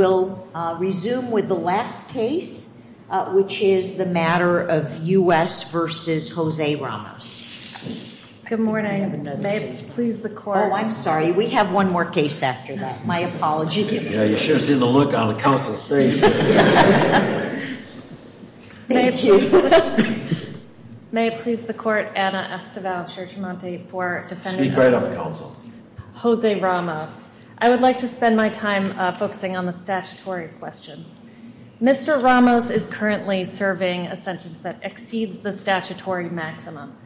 Good morning. May it please the court, Anna Estival-Churchamonti, for defending Jose Ramos. I would like to spend my time focusing on the statutory question. Mr. Ramos is currently serving a sentence that exceeds the statutory maximum.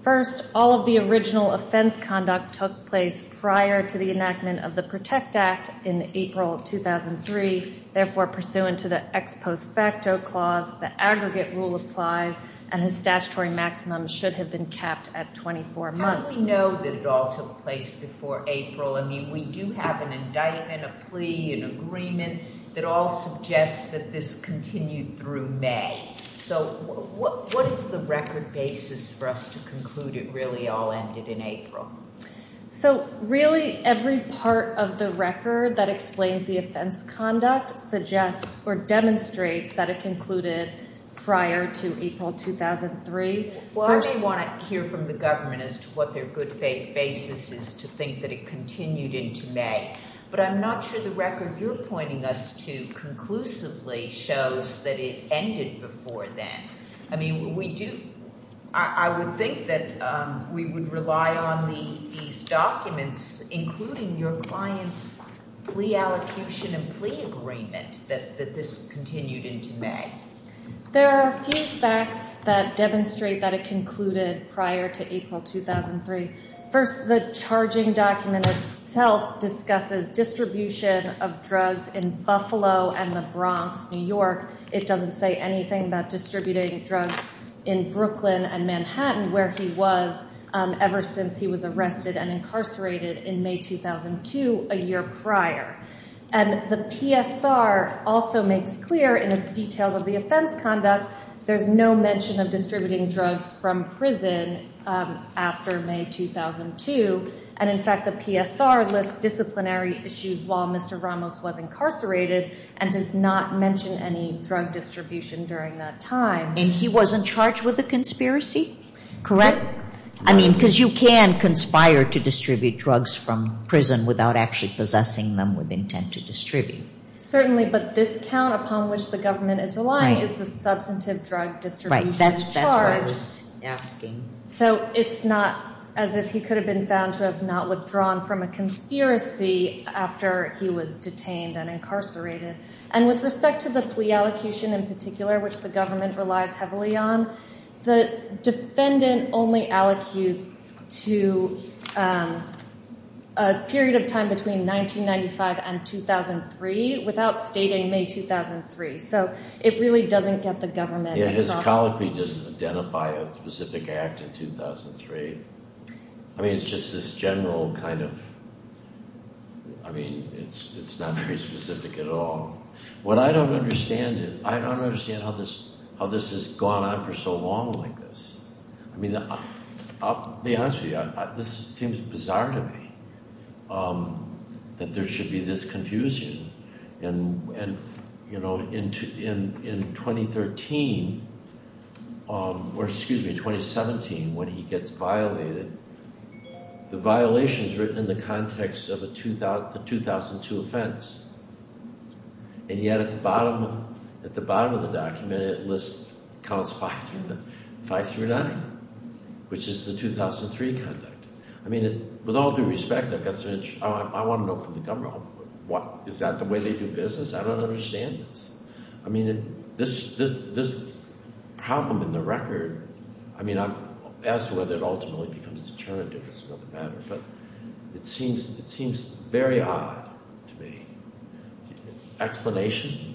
First, all of the original offense conduct took place prior to the enactment of the PROTECT Act in April of 2003. Therefore, pursuant to the ex post facto clause, the aggregate rule applies, and his statutory maximum should have been capped at 24 months. Let me know that it all took place before April. I mean, we do have an indictment, a plea, an agreement that all suggests that this continued through May. So what is the record basis for us to conclude it really all ended in April? So really every part of the record that explains the offense conduct suggests or demonstrates that it concluded prior to April 2003. Well, I may want to hear from the government as to what their good faith basis is to think that it continued into May. But I'm not sure the record you're pointing us to conclusively shows that it ended before then. I mean, we do I would think that we would rely on these documents, including your client's plea allocution and plea agreement, that this continued into May. There are a few facts that demonstrate that it concluded prior to April 2003. First, the charging document itself discusses distribution of drugs in Buffalo and the Bronx, New York. It doesn't say anything about distributing drugs in Brooklyn and Manhattan, where he was ever since he was arrested and incarcerated in May 2002, a year prior. And the PSR also makes clear in its details of the offense conduct, there's no mention of distributing drugs from prison after May 2002. And in fact, the PSR lists disciplinary issues while Mr. Ramos was incarcerated and does not mention any drug distribution during that time. And he wasn't charged with a conspiracy, correct? I mean, because you can conspire to distribute drugs from prison without actually possessing them with intent to distribute. Certainly, but this count upon which the government is relying is the substantive drug distribution charge. Right, that's what I was asking. So it's not as if he could have been found to have not withdrawn from a conspiracy after he was detained and incarcerated. And with respect to the plea allocution in particular, which the government relies heavily on, the defendant only allocutes to a period of time between 1995 and 2003 without stating May 2003. So it really doesn't get the government. Yeah, his colloquy doesn't identify a specific act in 2003. I mean, it's just this general kind of, I mean, it's not very specific at all. What I don't understand is, I don't understand how this has gone on for so long like this. I mean, I'll be honest with you, this seems bizarre to me that there should be this confusion. And, you know, in 2013, or excuse me, 2017, when he gets violated, the violation is written in the context of the 2002 offense. And yet at the bottom of the document, it lists, it counts 5 through 9, which is the 2003 conduct. I mean, with all due respect, I want to know from the government, is that the way they do business? I don't understand this. I mean, this problem in the record, I mean, as to whether it ultimately becomes determinative or some other matter, but it seems very odd to me. Explanation?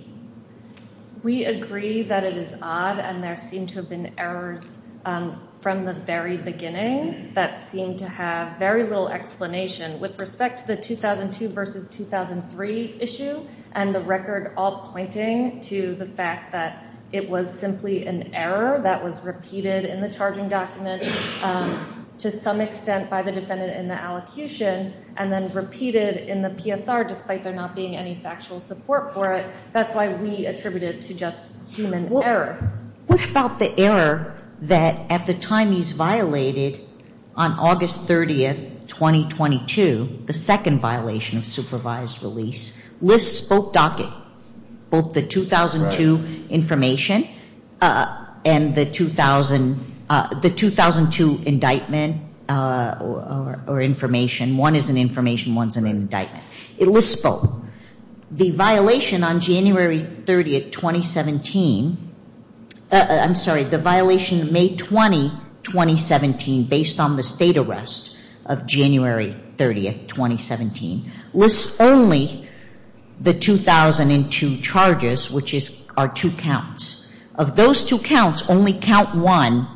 We agree that it is odd, and there seem to have been errors from the very beginning that seem to have very little explanation. With respect to the 2002 versus 2003 issue and the record all pointing to the fact that it was simply an error that was repeated in the charging document to some extent by the defendant in the allocution, and then repeated in the PSR despite there not being any factual support for it, that's why we attribute it to just human error. What about the error that at the time he's violated on August 30th, 2022, the second violation of supervised release, lists both the 2002 information and the 2002 indictment or information. One is an information, one is an indictment. It lists both. The violation on January 30th, 2017, I'm sorry, the violation May 20, 2017, based on the state arrest of January 30th, 2017, lists only the 2002 charges, which are two counts. Of those two counts, only count one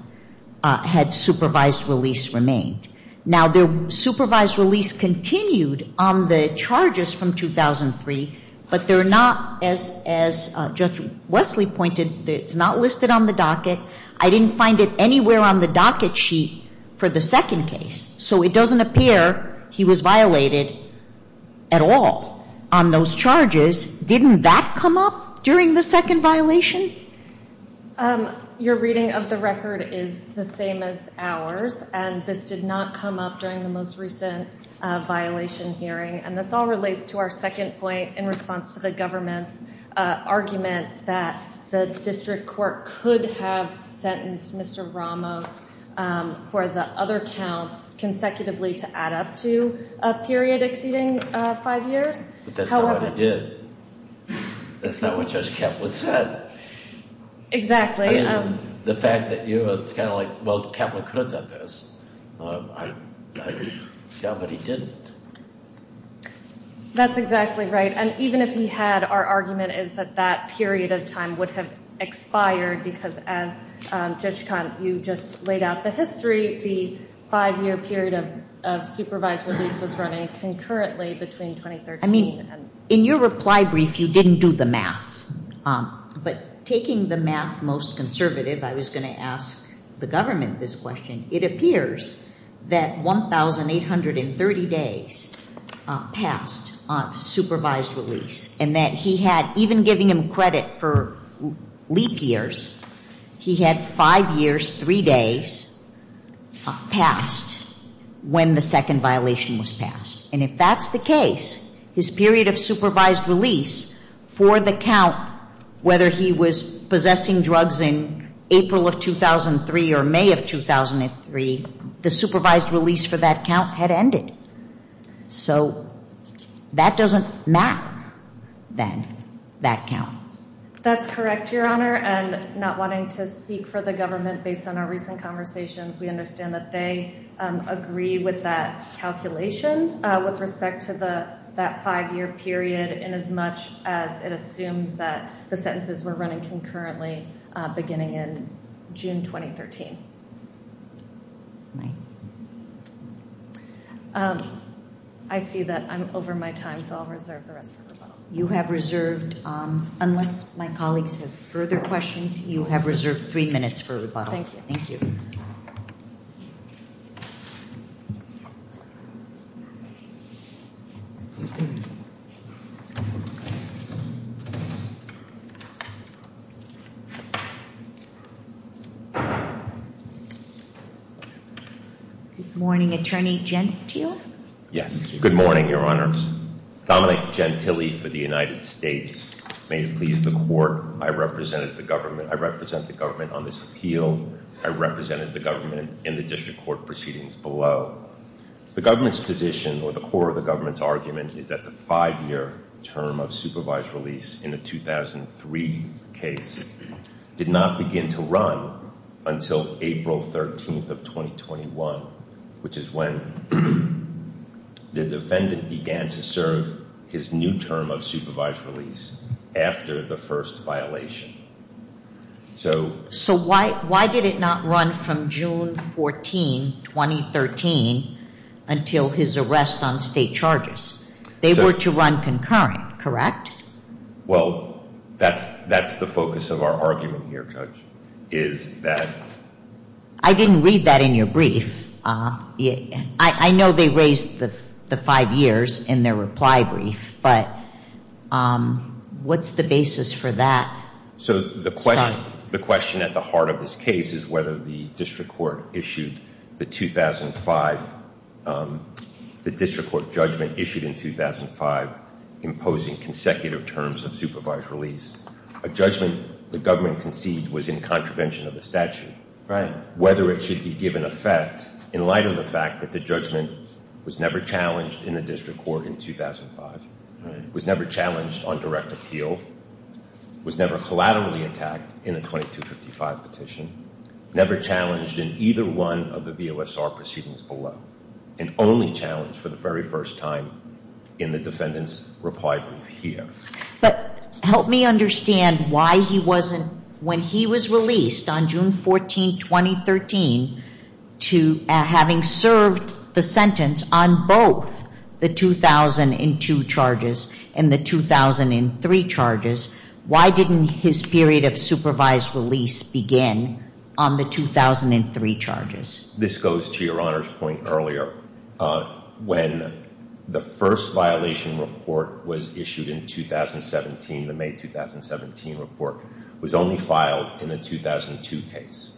had supervised release remained. Now, the supervised release continued on the charges from 2003, but they're not, as Judge Wesley pointed, it's not listed on the docket. I didn't find it anywhere on the docket sheet for the second case. So it doesn't appear he was violated at all on those charges. Didn't that come up during the second violation? Your reading of the record is the same as ours, and this did not come up during the most recent violation hearing. And this all relates to our second point in response to the government's argument that the district court could have sentenced Mr. Ramos for the other counts consecutively to add up to a period exceeding five years. But that's not what he did. That's not what Judge Kaplan said. Exactly. The fact that, you know, it's kind of like, well, Kaplan could have done this. But he didn't. That's exactly right. And even if he had, our argument is that that period of time would have expired, because as, Judge Kant, you just laid out the history, the five-year period of supervised release was running concurrently between 2013 and... I mean, in your reply brief, you didn't do the math. But taking the math most conservative, I was going to ask the government this question. It appears that 1,830 days passed on supervised release, and that he had, even giving him credit for leap years, he had five years, three days passed when the second violation was passed. And if that's the case, his period of supervised release for the count, whether he was possessing drugs in April of 2003 or May of 2003, the supervised release for that count had ended. So that doesn't map, then, that count. That's correct, Your Honor. And not wanting to speak for the government based on our recent conversations, we understand that they agree with that calculation with respect to that five-year period, inasmuch as it assumes that the sentences were running concurrently beginning in June 2013. I see that I'm over my time, so I'll reserve the rest for rebuttal. You have reserved, unless my colleagues have further questions, you have reserved three minutes for rebuttal. Thank you, thank you. Good morning, Attorney Gentile. Yes, good morning, Your Honors. Dominic Gentile for the United States. May it please the Court, I represent the government on this appeal. I represented the government in the district court proceedings below. The government's position, or the core of the government's argument, is that the five-year term of supervised release in the 2003 case did not begin to run until April 13th of 2021, which is when the defendant began to serve his new term of supervised release after the first violation. So why did it not run from June 14, 2013, until his arrest on state charges? They were to run concurrent, correct? Well, that's the focus of our argument here, Judge, is that... I didn't read that in your brief. I know they raised the five years in their reply brief, but what's the basis for that? So the question at the heart of this case is whether the district court issued the 2005, the district court judgment issued in 2005 imposing consecutive terms of supervised release, a judgment the government concedes was in contravention of the statute, whether it should be given effect in light of the fact that the judgment was never challenged in the district court in 2005, was never challenged on direct appeal, was never collaterally attacked in a 2255 petition, never challenged in either one of the VOSR proceedings below, and only challenged for the very first time in the defendant's reply brief here. But help me understand why he wasn't, when he was released on June 14, 2013, to having served the sentence on both the 2002 charges and the 2003 charges, why didn't his period of supervised release begin on the 2003 charges? This goes to Your Honor's point earlier. When the first violation report was issued in 2017, the May 2017 report, was only filed in the 2002 case,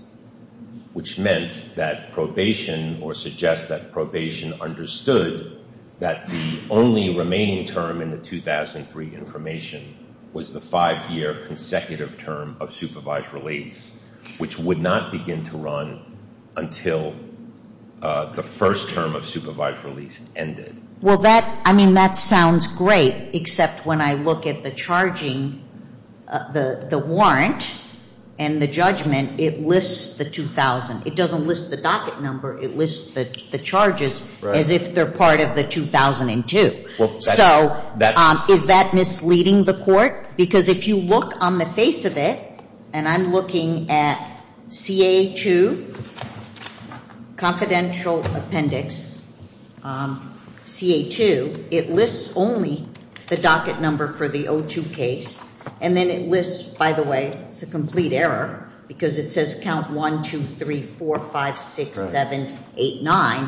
which meant that probation or suggests that probation understood that the only remaining term in the 2003 information was the five-year consecutive term of supervised release, which would not begin to run until the first term of supervised release ended. Well, that, I mean, that sounds great, except when I look at the charging, the warrant, and the judgment, it lists the 2000. It doesn't list the docket number. It lists the charges as if they're part of the 2002. So is that misleading the court? Because if you look on the face of it, and I'm looking at CA2, confidential appendix, CA2, it lists only the docket number for the 2002 case, and then it lists, by the way, it's a complete error, because it says count 1, 2, 3, 4, 5, 6, 7, 8, 9,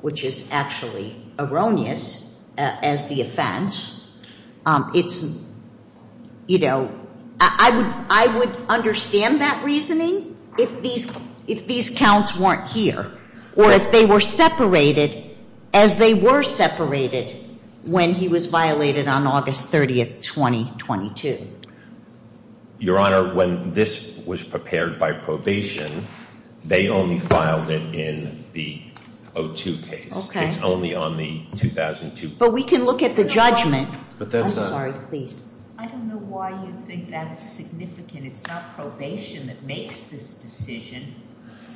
which is actually erroneous as the offense. It's, you know, I would understand that reasoning if these counts weren't here or if they were separated as they were separated when he was violated on August 30, 2022. Your Honor, when this was prepared by probation, they only filed it in the 02 case. Okay. It's only on the 2002. But we can look at the judgment. I'm sorry. Please. I don't know why you think that's significant. It's not probation that makes this decision.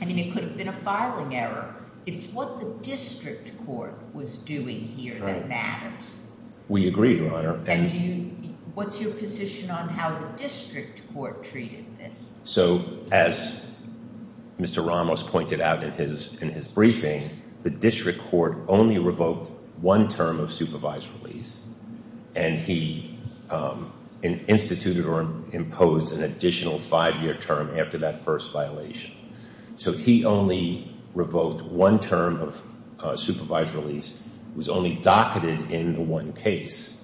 I mean, it could have been a filing error. It's what the district court was doing here that matters. We agree, Your Honor. And what's your position on how the district court treated this? So as Mr. Ramos pointed out in his briefing, the district court only revoked one term of supervised release, and he instituted or imposed an additional five-year term after that first violation. So he only revoked one term of supervised release. It was only docketed in the one case.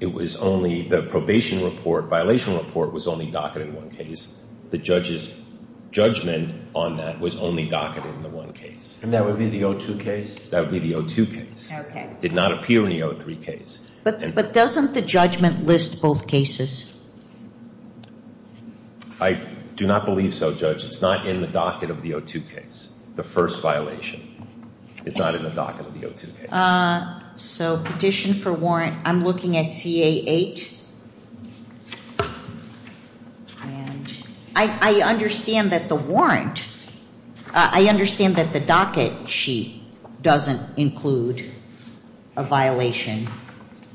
It was only the probation report, violation report, was only docketed in one case. The judge's judgment on that was only docketed in the one case. And that would be the 02 case? That would be the 02 case. Okay. It did not appear in the 03 case. But doesn't the judgment list both cases? I do not believe so, Judge. It's not in the docket of the 02 case, the first violation. It's not in the docket of the 02 case. So petition for warrant, I'm looking at CA-8. And I understand that the warrant, I understand that the docket sheet doesn't include a violation,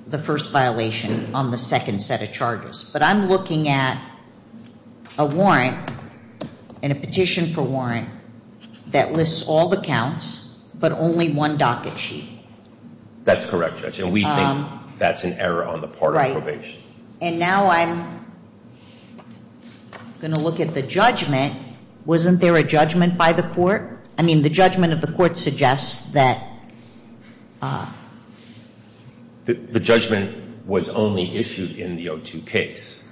the first violation on the second set of charges. But I'm looking at a warrant and a petition for warrant that lists all the counts but only one docket sheet. That's correct, Judge. And we think that's an error on the part of probation. And now I'm going to look at the judgment. Wasn't there a judgment by the court? I mean, the judgment of the court suggests that. The judgment was only issued in the 02 case.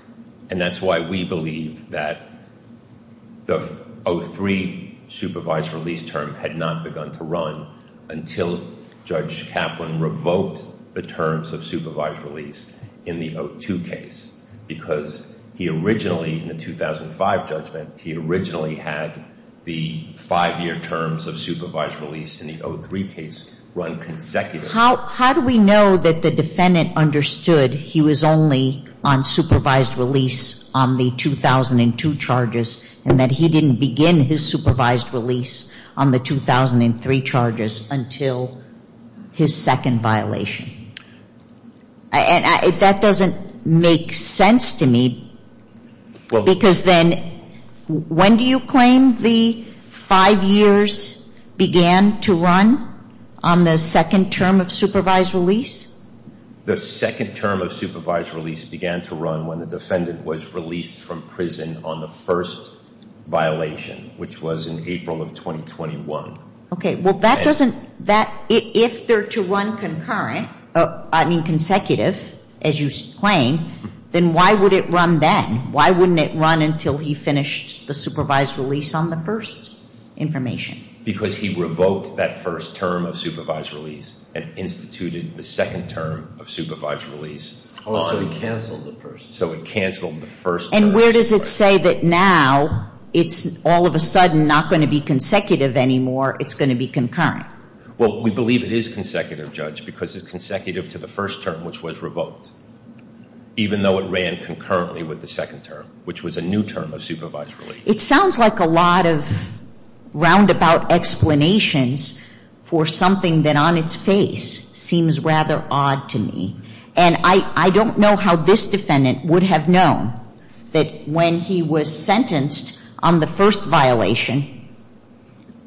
And that's why we believe that the 03 supervised release term had not begun to run until Judge Kaplan revoked the terms of supervised release in the 02 case. Because he originally, in the 2005 judgment, he originally had the five-year terms of supervised release in the 03 case run consecutively. How do we know that the defendant understood he was only on supervised release on the 2002 charges and that he didn't begin his supervised release on the 2003 charges until his second violation? And that doesn't make sense to me. Because then, when do you claim the five years began to run on the second term of supervised release? The second term of supervised release began to run when the defendant was released from prison on the first violation, which was in April of 2021. Okay. Well, that doesn't, that, if they're to run concurrent, I mean consecutive, as you claim, then why would it run then? Why wouldn't it run until he finished the supervised release on the first information? Because he revoked that first term of supervised release and instituted the second term of supervised release on. Oh, so he canceled the first term. So it canceled the first term. And where does it say that now it's all of a sudden not going to be consecutive anymore, it's going to be concurrent? Well, we believe it is consecutive, Judge, because it's consecutive to the first term, which was revoked, even though it ran concurrently with the second term, which was a new term of supervised release. It sounds like a lot of roundabout explanations for something that on its face seems rather odd to me. And I don't know how this defendant would have known that when he was sentenced on the first violation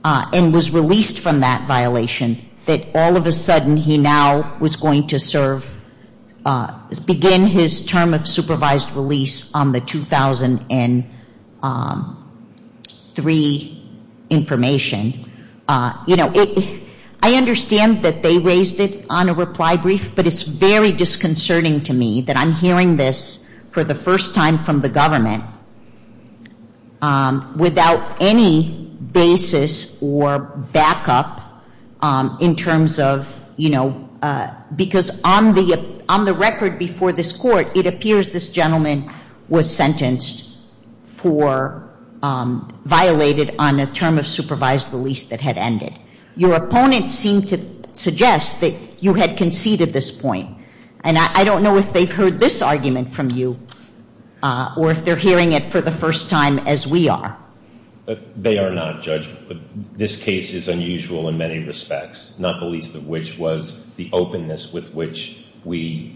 and was released from that violation, that all of a sudden he now was going to serve, begin his term of supervised release on the 2003 information. You know, I understand that they raised it on a reply brief, but it's very disconcerting to me that I'm hearing this for the first time from the government without any basis or backup in terms of, you know, because on the record before this court, it appears this gentleman was sentenced for violated on a term of supervised release that had ended. Your opponent seemed to suggest that you had conceded this point. And I don't know if they've heard this argument from you or if they're hearing it for the first time as we are. They are not, Judge. This case is unusual in many respects, not the least of which was the openness with which we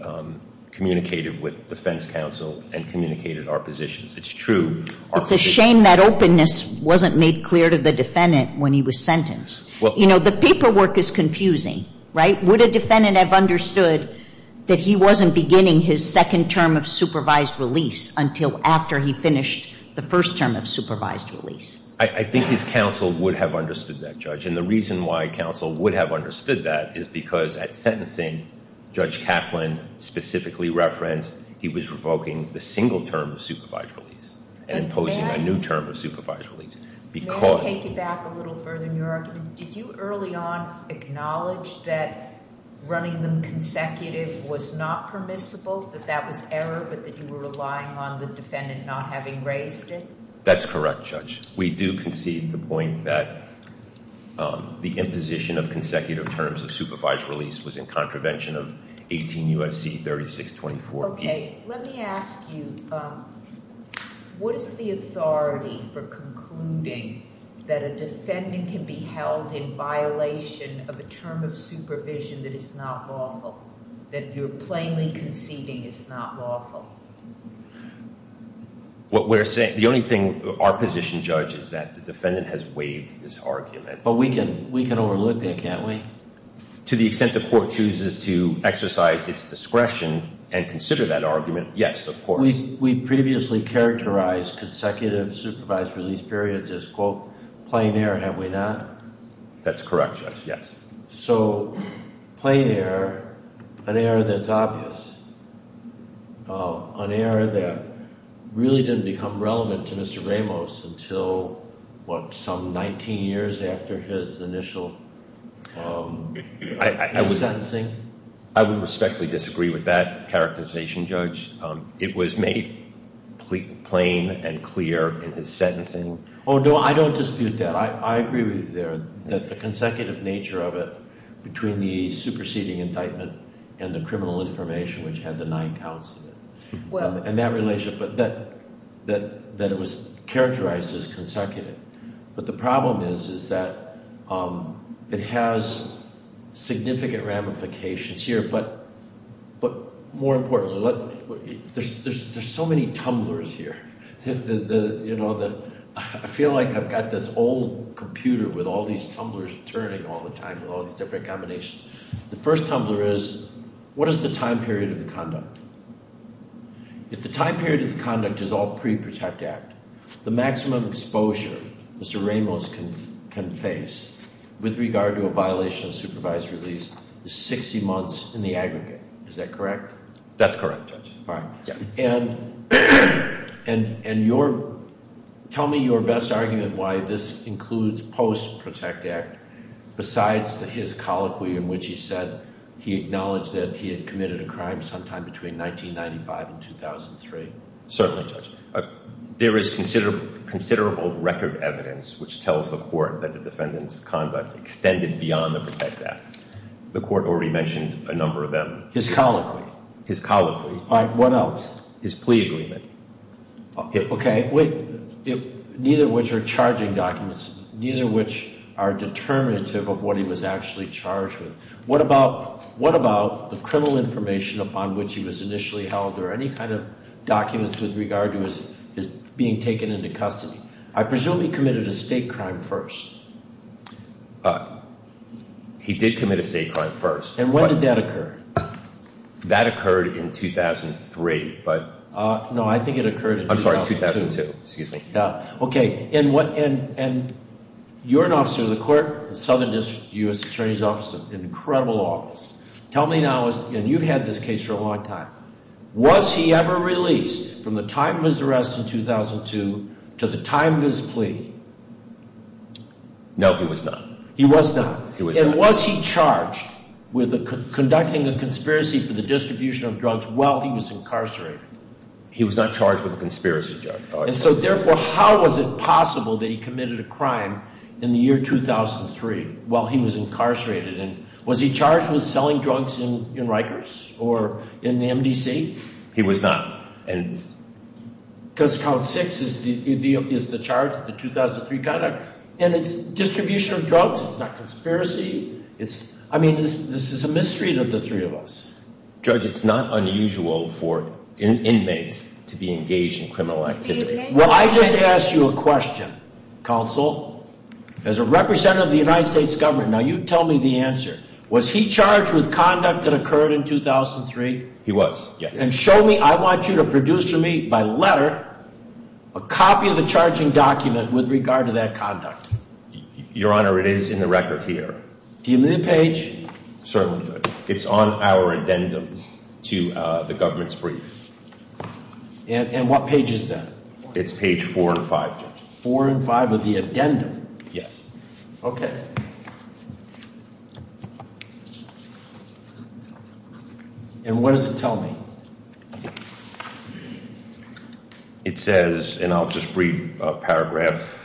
communicated with defense counsel and communicated our positions. It's true. It's a shame that openness wasn't made clear to the defendant when he was sentenced. You know, the paperwork is confusing, right? Would a defendant have understood that he wasn't beginning his second term of supervised release until after he finished the first term of supervised release? I think his counsel would have understood that, Judge. And the reason why counsel would have understood that is because at sentencing, Judge Kaplan specifically referenced he was revoking the single term of supervised release and imposing a new term of supervised release. May I take you back a little further in your argument? Did you early on acknowledge that running them consecutive was not permissible, that that was error, but that you were relying on the defendant not having raised it? That's correct, Judge. We do concede the point that the imposition of consecutive terms of supervised release was in contravention of 18 U.S.C. 3624. Okay. Let me ask you, what is the authority for concluding that a defendant can be held in violation of a term of supervision that is not lawful, that you're plainly conceding is not lawful? The only thing our position, Judge, is that the defendant has waived this argument. But we can overlook that, can't we? To the extent the court chooses to exercise its discretion and consider that argument, yes, of course. We previously characterized consecutive supervised release periods as, quote, plain error. Have we not? That's correct, Judge, yes. So plain error, an error that's obvious, an error that really didn't become relevant to Mr. Ramos until, what, some 19 years after his initial sentencing? I would respectfully disagree with that characterization, Judge. It was made plain and clear in his sentencing. Oh, no, I don't dispute that. I agree with you there, that the consecutive nature of it between the superseding indictment and the criminal information, which had the nine counts in it, and that relationship, that it was characterized as consecutive. But the problem is, is that it has significant ramifications here. But more importantly, there's so many tumblers here. I feel like I've got this old computer with all these tumblers turning all the time and all these different combinations. The first tumbler is, what is the time period of the conduct? If the time period of the conduct is all pre-Protect Act, the maximum exposure Mr. Ramos can face with regard to a violation of supervised release is 60 months in the aggregate. Is that correct? That's correct, Judge. All right. And tell me your best argument why this includes post-Protect Act besides his colloquy in which he said he acknowledged that he had committed a crime sometime between 1995 and 2003. Certainly, Judge. There is considerable record evidence which tells the Court that the defendant's conduct extended beyond the Protect Act. The Court already mentioned a number of them. His colloquy. His colloquy. All right. What else? His plea agreement. Wait. Neither of which are charging documents. Neither of which are determinative of what he was actually charged with. What about the criminal information upon which he was initially held or any kind of documents with regard to his being taken into custody? I presume he committed a state crime first. He did commit a state crime first. And when did that occur? That occurred in 2003. No, I think it occurred in 2002. I'm sorry, 2002. Excuse me. And you're an officer of the Court, Southern District U.S. Attorney's Office, an incredible office. Tell me now, and you've had this case for a long time, was he ever released from the time of his arrest in 2002 to the time of his plea? No, he was not. He was not. He was not. And was he charged with conducting a conspiracy for the distribution of drugs while he was incarcerated? He was not charged with a conspiracy charge. And so, therefore, how was it possible that he committed a crime in the year 2003 while he was incarcerated? And was he charged with selling drugs in Rikers or in the MDC? He was not. Because count six is the charge, the 2003 conduct. And it's distribution of drugs. It's not conspiracy. I mean, this is a mystery to the three of us. Judge, it's not unusual for inmates to be engaged in criminal activity. Well, I just asked you a question, counsel. As a representative of the United States government, now you tell me the answer. Was he charged with conduct that occurred in 2003? He was, yes. And show me, I want you to produce for me by letter a copy of the charging document with regard to that conduct. Your Honor, it is in the record here. Do you mean the page? Certainly, Judge. It's on our addendum to the government's brief. And what page is that? It's page four and five, Judge. Four and five of the addendum? Yes. Okay. And what does it tell me? It says, and I'll just read a paragraph.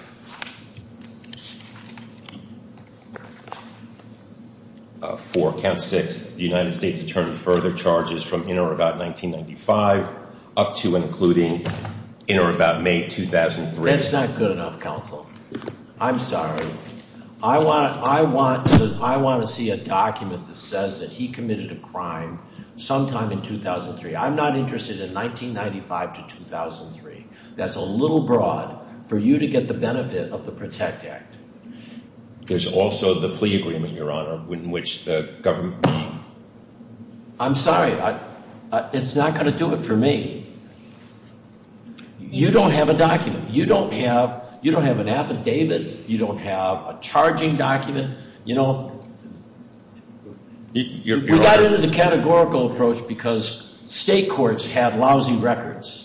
For count six, the United States attorney further charges from in or about 1995 up to and including in or about May 2003. That's not good enough, counsel. I'm sorry. I want to see a document that says that he committed a crime sometime in 2003. I'm not interested in 1995 to 2003. That's a little broad for you to get the benefit of the PROTECT Act. There's also the plea agreement, Your Honor, in which the government. I'm sorry. It's not going to do it for me. You don't have a document. You don't have an affidavit. You don't have a charging document. You know, we got into the categorical approach because state courts have lousy records.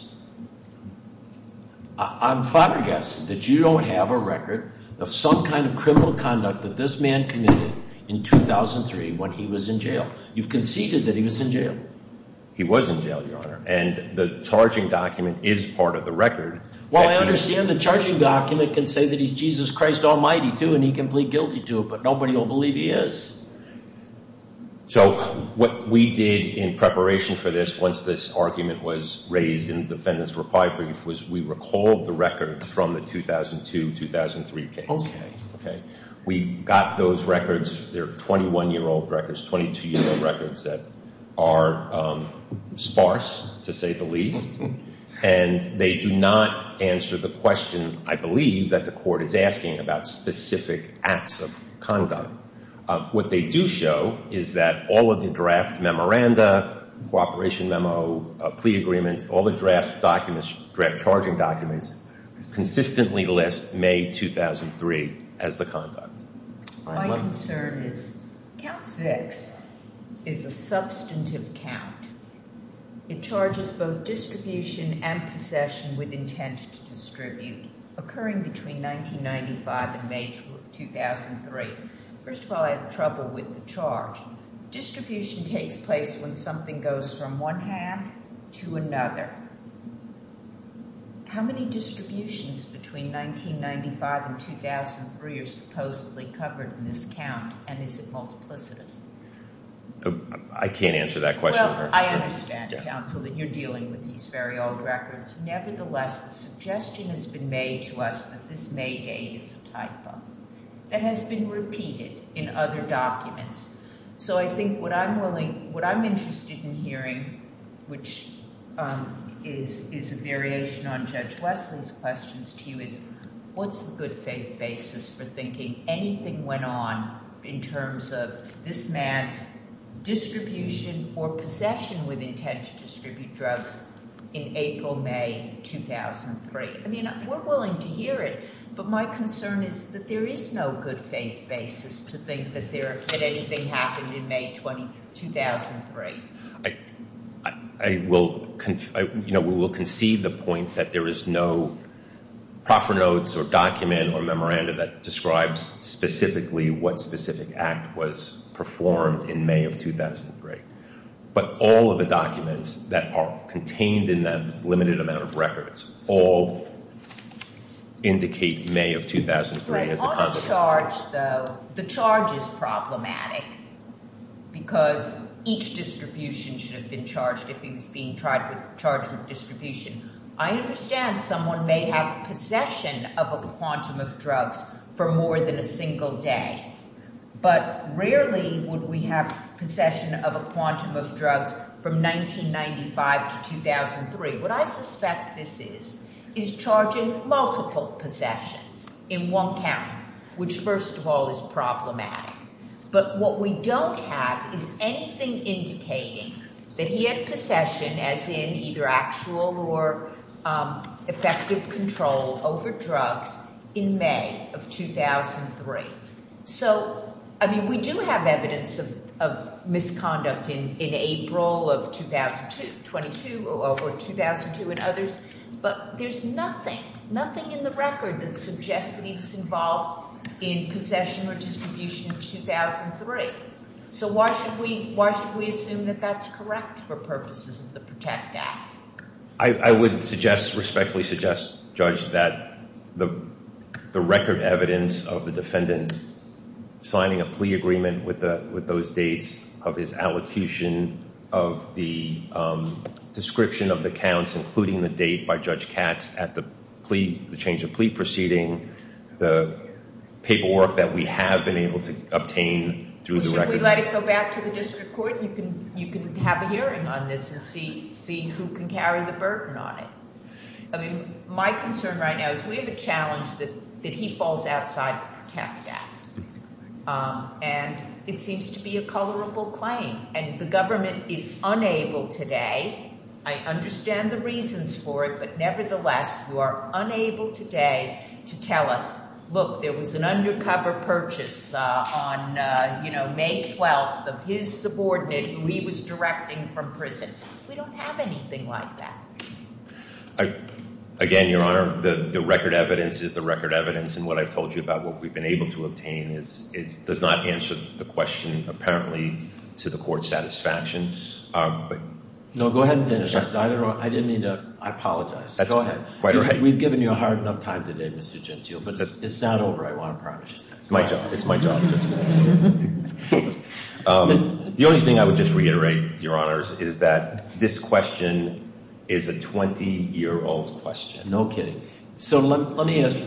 I'm flabbergasted that you don't have a record of some kind of criminal conduct that this man committed in 2003 when he was in jail. You've conceded that he was in jail. He was in jail, Your Honor, and the charging document is part of the record. Well, I understand the charging document can say that he's Jesus Christ Almighty, too, and he can plead guilty to it, but nobody will believe he is. So what we did in preparation for this once this argument was raised in the defendant's reply brief was we recalled the records from the 2002-2003 case. We got those records. They're 21-year-old records, 22-year-old records that are sparse, to say the least, and they do not answer the question, I believe, that the court is asking about specific acts of conduct. What they do show is that all of the draft memoranda, cooperation memo, plea agreements, all the draft charging documents consistently list May 2003 as the conduct. My concern is count six is a substantive count. It charges both distribution and possession with intent to distribute occurring between 1995 and May 2003. First of all, I have trouble with the charge. Distribution takes place when something goes from one hand to another. How many distributions between 1995 and 2003 are supposedly covered in this count, and is it multiplicitous? I can't answer that question, Your Honor. I understand, counsel, that you're dealing with these very old records. Nevertheless, the suggestion has been made to us that this May date is a typo that has been repeated in other documents. So I think what I'm interested in hearing, which is a variation on Judge Wesley's questions to you, is what's the good faith basis for thinking anything went on in terms of this man's distribution or possession with intent to distribute drugs in April, May 2003? I mean, we're willing to hear it, but my concern is that there is no good faith basis to think that anything happened in May 2003. I will, you know, we will concede the point that there is no proper notes or document or memoranda that describes specifically what specific act was performed in May of 2003. But all of the documents that are contained in that limited amount of records all indicate May of 2003 as a consequence. The charge, though, the charge is problematic because each distribution should have been charged if he was being tried with the charge of distribution. I understand someone may have possession of a quantum of drugs for more than a single day, but rarely would we have possession of a quantum of drugs from 1995 to 2003. What I suspect this is, is charging multiple possessions in one count, which first of all is problematic. But what we don't have is anything indicating that he had possession as in either actual or effective control over drugs in May of 2003. So, I mean, we do have evidence of misconduct in April of 2002, 22 or 2002 and others, but there's nothing, nothing in the record that suggests that he was involved in possession or distribution in 2003. So why should we assume that that's correct for purposes of the Protected Act? I would suggest, respectfully suggest, Judge, that the record evidence of the defendant signing a plea agreement with those dates of his allocution of the description of the counts, including the date by Judge Katz at the change of plea proceeding, the paperwork that we have been able to obtain through the records- I mean, my concern right now is we have a challenge that he falls outside the Protected Act. And it seems to be a colorable claim. And the government is unable today, I understand the reasons for it, but nevertheless you are unable today to tell us, look, there was an undercover purchase on, you know, May 12th of his subordinate who he was directing from prison. We don't have anything like that. Again, Your Honor, the record evidence is the record evidence, and what I've told you about what we've been able to obtain does not answer the question, apparently, to the Court's satisfaction. No, go ahead and finish. I didn't mean to- I apologize. Go ahead. We've given you a hard enough time today, Mr. Gentile, but it's not over. I want to promise you that. It's my job. It's my job. The only thing I would just reiterate, Your Honors, is that this question is a 20-year-old question. No kidding. So let me ask-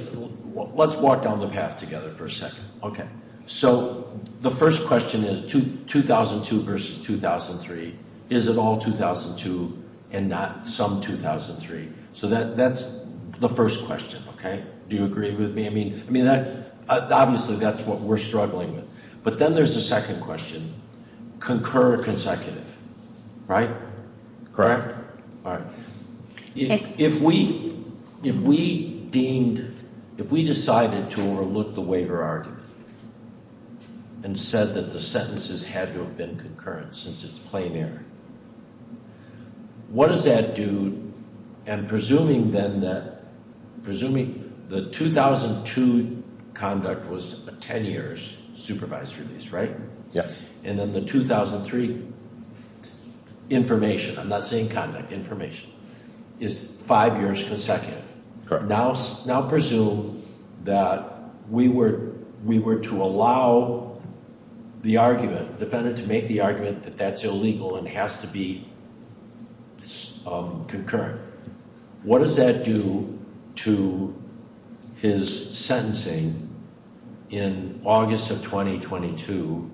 let's walk down the path together for a second. Okay. So the first question is 2002 versus 2003. Is it all 2002 and not some 2003? So that's the first question, okay? Do you agree with me? I mean, obviously that's what we're struggling with. But then there's the second question. Concur consecutive, right? Correct? All right. If we deemed- if we decided to overlook the waiver argument and said that the sentences had to have been concurrent since it's plain error, what does that do? And presuming then that- presuming the 2002 conduct was 10 years supervised release, right? Yes. And then the 2003 information- I'm not saying conduct, information- is five years consecutive. Correct. Now presume that we were to allow the argument- defendant to make the argument that that's illegal and has to be concurrent. What does that do to his sentencing in August of 2022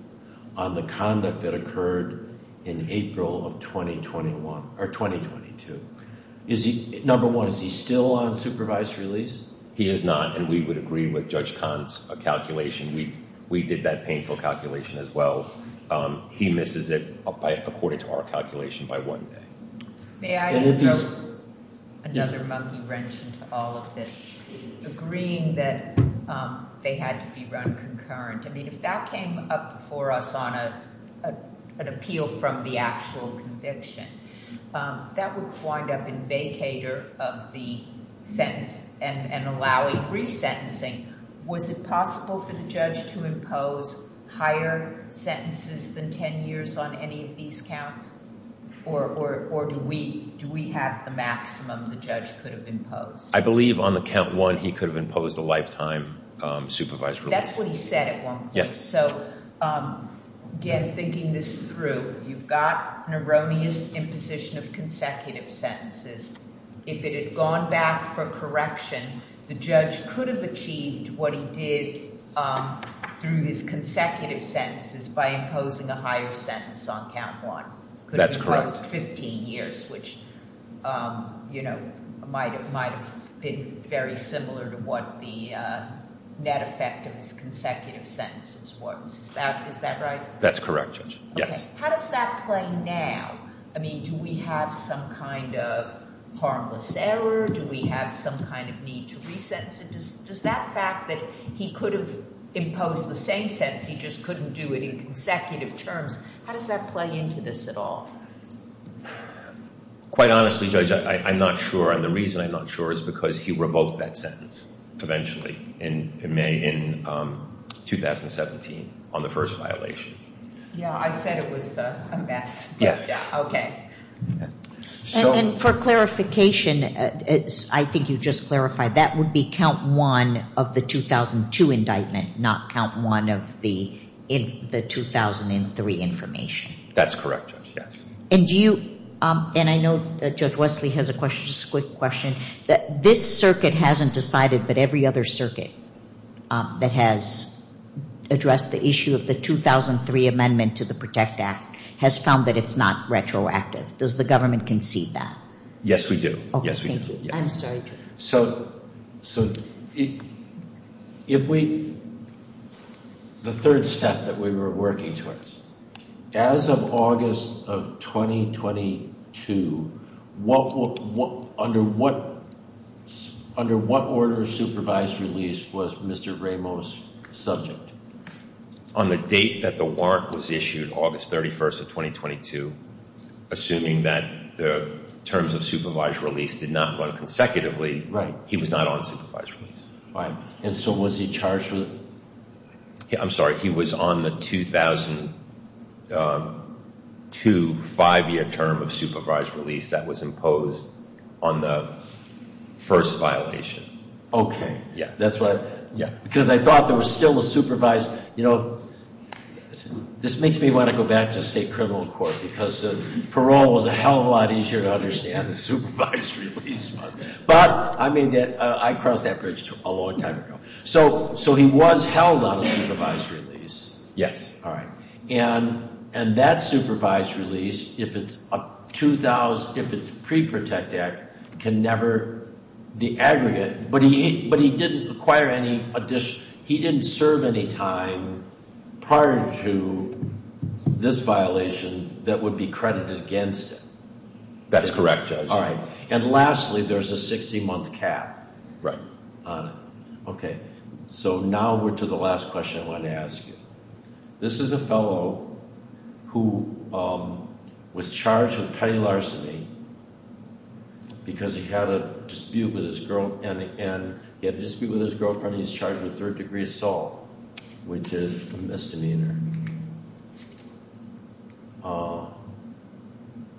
on the conduct that occurred in April of 2021- or 2022? Number one, is he still on supervised release? He is not, and we would agree with Judge Kahn's calculation. We did that painful calculation as well. He misses it according to our calculation by one day. May I throw another monkey wrench into all of this? Agreeing that they had to be run concurrent. I mean, if that came up before us on an appeal from the actual conviction, that would wind up in vacator of the sentence and allowing resentencing. Was it possible for the judge to impose higher sentences than 10 years on any of these counts? Or do we have the maximum the judge could have imposed? I believe on the count one, he could have imposed a lifetime supervised release. That's what he said at one point. So again, thinking this through, you've got an erroneous imposition of consecutive sentences. If it had gone back for correction, the judge could have achieved what he did through his consecutive sentences by imposing a higher sentence on count one. That's correct. Could have imposed 15 years, which might have been very similar to what the net effect of his consecutive sentences was. Is that right? That's correct, Judge. Yes. How does that play now? I mean, do we have some kind of harmless error? Do we have some kind of need to resentence? Does that fact that he could have imposed the same sentence, he just couldn't do it in consecutive terms, how does that play into this at all? Quite honestly, Judge, I'm not sure. And the reason I'm not sure is because he revoked that sentence eventually in May in 2017 on the first violation. Yeah, I said it was a mess. Yes. Okay. And for clarification, I think you just clarified, that would be count one of the 2002 indictment, not count one of the 2003 information. That's correct, Judge, yes. And do you – and I know Judge Wesley has a quick question. This circuit hasn't decided, but every other circuit that has addressed the issue of the 2003 amendment to the PROTECT Act has found that it's not retroactive. Does the government concede that? Yes, we do. Okay, thank you. I'm sorry, Judge. So if we – the third step that we were working towards, as of August of 2022, under what order of supervised release was Mr. Ramos subject? On the date that the warrant was issued, August 31st of 2022, assuming that the terms of supervised release did not run consecutively, he was not on supervised release. And so was he charged with – I'm sorry, he was on the 2002 five-year term of supervised release that was imposed on the first violation. Okay. Yeah. Because I thought there was still a supervised – you know, this makes me want to go back to state criminal court because parole was a hell of a lot easier to understand than supervised release was. But I made that – I crossed that bridge a long time ago. So he was held on a supervised release. Yes. All right. And that supervised release, if it's pre-protect act, can never – the aggregate – but he didn't acquire any – he didn't serve any time prior to this violation that would be credited against him. That's correct, Judge. All right. And lastly, there's a 60-month cap on it. Okay. So now we're to the last question I wanted to ask you. This is a fellow who was charged with petty larceny because he had a dispute with his girlfriend. And he had a dispute with his girlfriend. He's charged with third-degree assault, which is a misdemeanor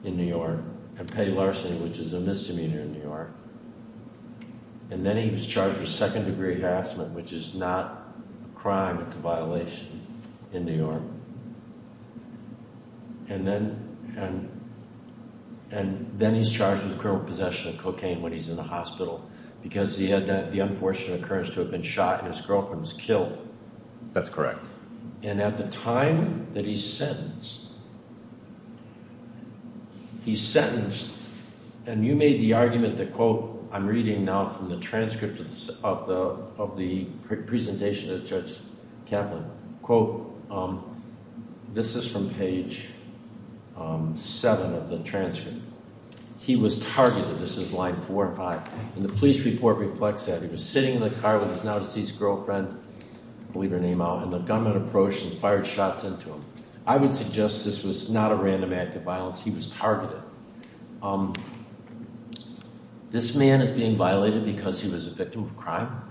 in New York, and petty larceny, which is a misdemeanor in New York. And then he was charged with second-degree harassment, which is not a crime. It's a violation in New York. And then he's charged with criminal possession of cocaine when he's in the hospital because he had the unfortunate occurrence to have been shot and his girlfriend was killed. That's correct. And at the time that he's sentenced – he's sentenced, and you made the argument that, quote – I'm reading now from the transcript of the presentation of Judge Kaplan – quote, this is from page 7 of the transcript. He was targeted. This is line 4 and 5. And the police report reflects that. He was sitting in the car with his now-deceased girlfriend – I'll leave her name out – and the gunman approached and fired shots into him. I would suggest this was not a random act of violence. He was targeted. This man is being violated because he was a victim of crime?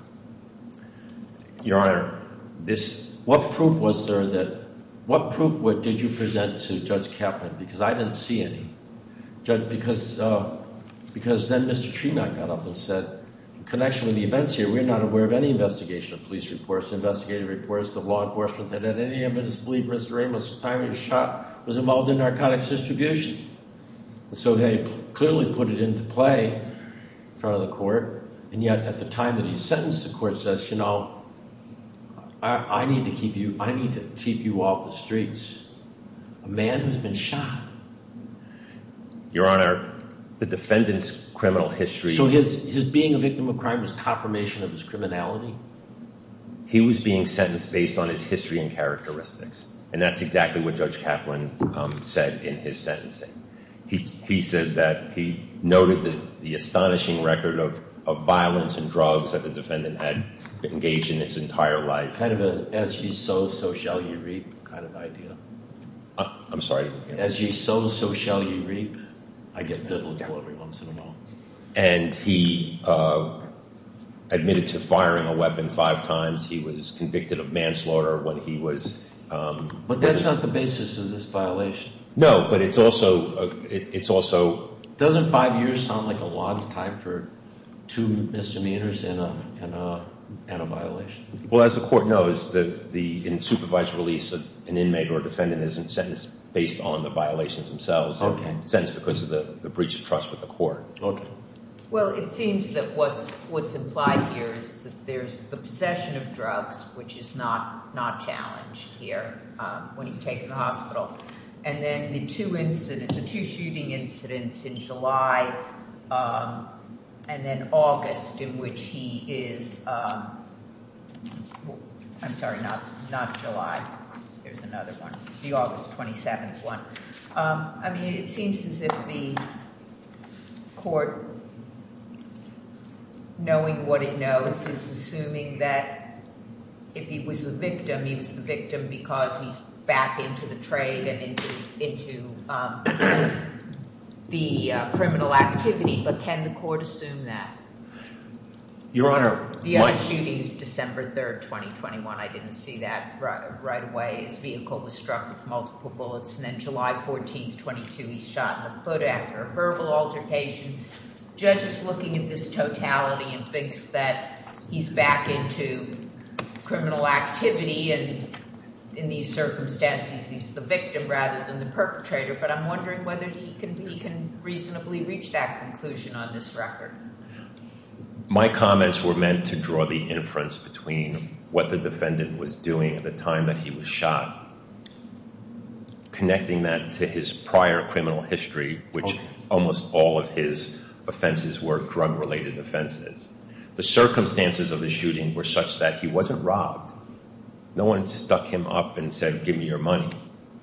Your Honor, this – what proof was there that – what proof did you present to Judge Kaplan? Because I didn't see any. Judge, because – because then Mr. Tremak got up and said, in connection with the events here, we're not aware of any investigation of police reports, investigative reports, the law enforcement that had any evidence to believe Mr. Amos was shot, was involved in narcotics distribution. So they clearly put it into play in front of the court. And yet at the time that he's sentenced, the court says, you know, I need to keep you – I need to keep you off the streets. A man has been shot. Your Honor, the defendant's criminal history – So his – his being a victim of crime was confirmation of his criminality? He was being sentenced based on his history and characteristics. And that's exactly what Judge Kaplan said in his sentencing. He – he said that – he noted the astonishing record of violence and drugs that the defendant had engaged in his entire life. Kind of a as ye sow, so shall ye reap kind of idea? I'm sorry? As ye sow, so shall ye reap. I get bitter every once in a while. And he admitted to firing a weapon five times. He was convicted of manslaughter when he was – But that's not the basis of this violation. No, but it's also – it's also – Doesn't five years sound like a lot of time for two misdemeanors and a – and a violation? Well, as the court knows, the – in supervised release, an inmate or a defendant isn't sentenced based on the violations themselves. Okay. Sentenced because of the breach of trust with the court. Okay. Well, it seems that what's – what's implied here is that there's the possession of drugs, which is not – not challenged here when he's taken to the hospital. And then the two incidents – the two shooting incidents in July and then August in which he is – I'm sorry, not July. There's another one. The August 27th one. I mean, it seems as if the court, knowing what it knows, is assuming that if he was the victim, he was the victim because he's back into the trade and into the criminal activity. But can the court assume that? Your Honor – The other shooting is December 3rd, 2021. I didn't see that right away. His vehicle was struck with multiple bullets. And then July 14th, 22, he's shot in the foot after a verbal altercation. Judge is looking at this totality and thinks that he's back into criminal activity, and in these circumstances, he's the victim rather than the perpetrator. But I'm wondering whether he can reasonably reach that conclusion on this record. My comments were meant to draw the inference between what the defendant was doing at the time that he was shot, connecting that to his prior criminal history, which almost all of his offenses were drug-related offenses. The circumstances of the shooting were such that he wasn't robbed. No one stuck him up and said, give me your money.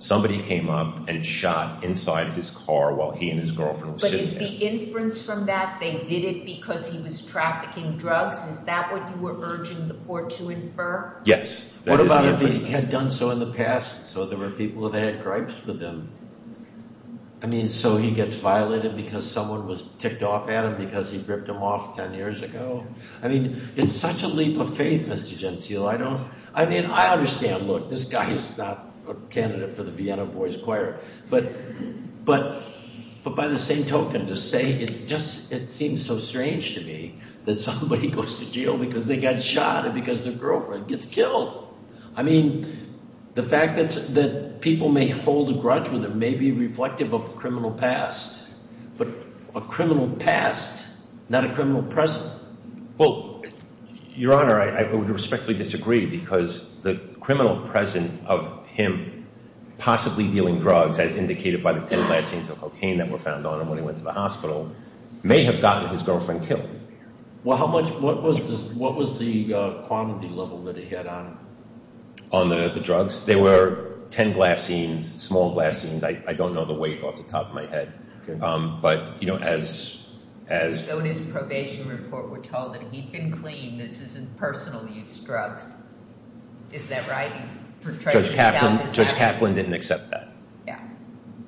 Somebody came up and shot inside his car while he and his girlfriend were sitting there. Is the inference from that they did it because he was trafficking drugs? Is that what you were urging the court to infer? Yes. What about if he had done so in the past, so there were people that had gripes with him? I mean, so he gets violated because someone was ticked off at him because he ripped him off 10 years ago? I mean, it's such a leap of faith, Mr. Gentile. I mean, I understand, look, this guy is not a candidate for the Vienna Boys Choir. But by the same token, to say it just seems so strange to me that somebody goes to jail because they got shot and because their girlfriend gets killed. I mean, the fact that people may hold a grudge with him may be reflective of a criminal past. But a criminal past, not a criminal present. Well, Your Honor, I would respectfully disagree because the criminal present of him possibly dealing drugs, as indicated by the 10 glass scenes of cocaine that were found on him when he went to the hospital, may have gotten his girlfriend killed. Well, how much, what was the quantity level that he had on him? On the drugs? There were 10 glass scenes, small glass scenes. I don't know the weight off the top of my head. Okay. But, you know, as... Though in his probation report we're told that he'd been clean, this isn't personal use drugs. Is that right? Judge Kaplan didn't accept that. Yeah.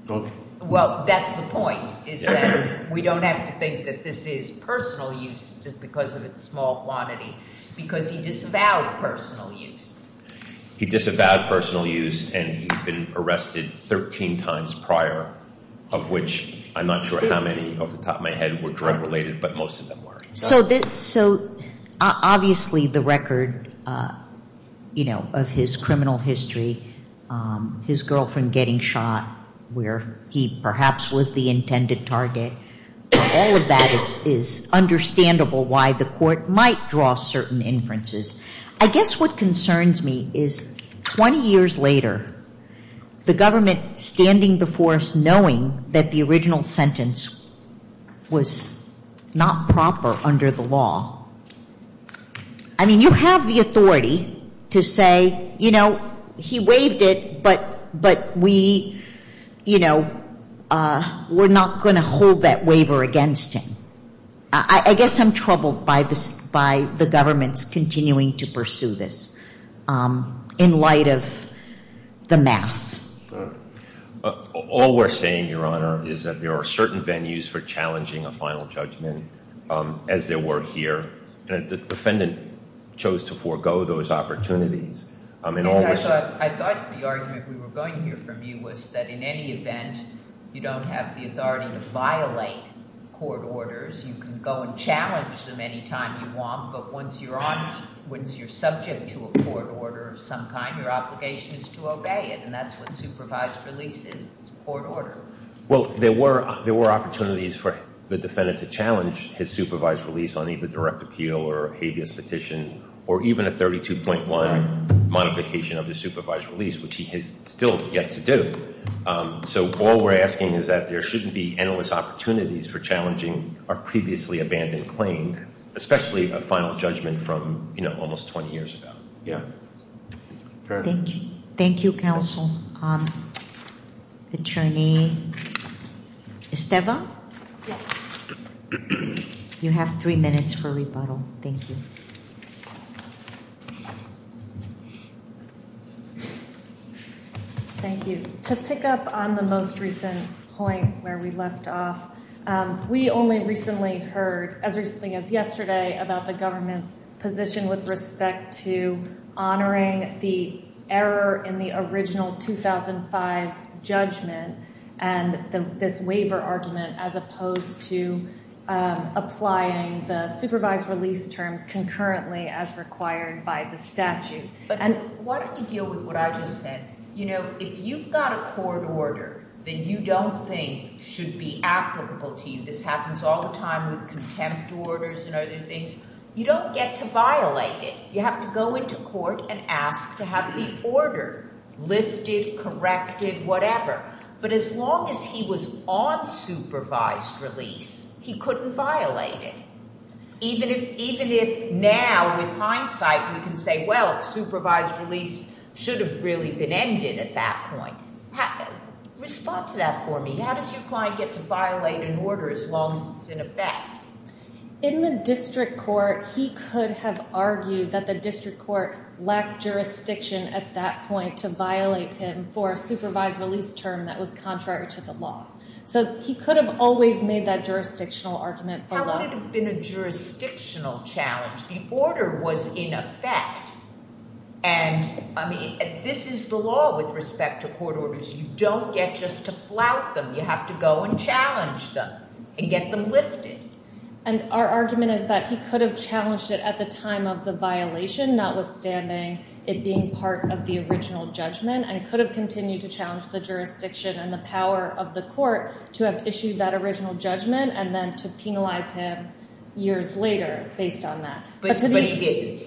Okay. Well, that's the point, is that we don't have to think that this is personal use just because of its small quantity. Because he disavowed personal use. He disavowed personal use and he'd been arrested 13 times prior, of which I'm not sure how many off the top of my head were drug related, but most of them were. So obviously the record, you know, of his criminal history, his girlfriend getting shot where he perhaps was the intended target, all of that is understandable why the court might draw certain inferences. I guess what concerns me is 20 years later, the government standing before us knowing that the original sentence was not proper under the law. I mean, you have the authority to say, you know, he waived it, but we, you know, we're not going to hold that waiver against him. I guess I'm troubled by the government's continuing to pursue this in light of the math. All we're saying, Your Honor, is that there are certain venues for challenging a final judgment as there were here. The defendant chose to forego those opportunities. I thought the argument we were going to hear from you was that in any event, you don't have the authority to violate court orders. You can go and challenge them any time you want, but once you're on, once you're subject to a court order of some kind, your obligation is to obey it. And that's what supervised release is. It's a court order. Well, there were opportunities for the defendant to challenge his supervised release on either direct appeal or habeas petition, or even a 32.1 modification of the supervised release, which he has still yet to do. So all we're asking is that there shouldn't be endless opportunities for challenging our previously abandoned claim, especially a final judgment from, you know, almost 20 years ago. Thank you. Thank you, counsel. Attorney Esteva, you have three minutes for rebuttal. Thank you. Thank you. To pick up on the most recent point where we left off, we only recently heard, as recently as yesterday, about the government's position with respect to honoring the error in the original 2005 judgment and this waiver argument as opposed to applying the supervised release terms concurrently as required by the statute. And why don't you deal with what I just said? You know, if you've got a court order that you don't think should be applicable to you, this happens all the time with contempt orders and other things, you don't get to violate it. You have to go into court and ask to have the order lifted, corrected, whatever. But as long as he was on supervised release, he couldn't violate it. Even if now, with hindsight, we can say, well, supervised release should have really been ended at that point. Respond to that for me. How does your client get to violate an order as long as it's in effect? In the district court, he could have argued that the district court lacked jurisdiction at that point to violate him for a supervised release term that was contrary to the law. So he could have always made that jurisdictional argument alone. It wouldn't have been a jurisdictional challenge. The order was in effect. And, I mean, this is the law with respect to court orders. You don't get just to flout them. You have to go and challenge them and get them lifted. And our argument is that he could have challenged it at the time of the violation, notwithstanding it being part of the original judgment, and could have continued to challenge the jurisdiction and the power of the court to have issued that original judgment and then to penalize him years later based on that. But he did?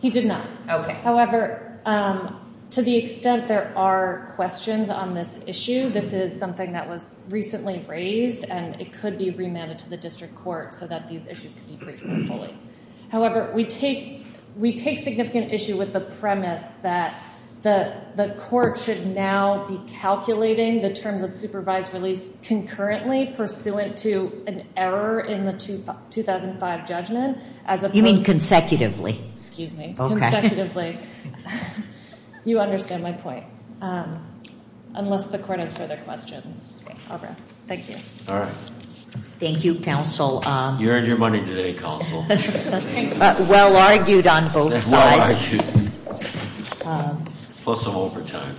He did not. However, to the extent there are questions on this issue, this is something that was recently raised, and it could be remanded to the district court so that these issues could be briefed more fully. However, we take significant issue with the premise that the court should now be calculating the terms of supervised release concurrently pursuant to an error in the 2005 judgment as opposed to- You mean consecutively? Excuse me. Okay. You understand my point. Unless the court has further questions. I'll rest. Thank you. All right. Thank you, counsel. You earned your money today, counsel. Well argued on both sides. Well argued. Plus a hold for time.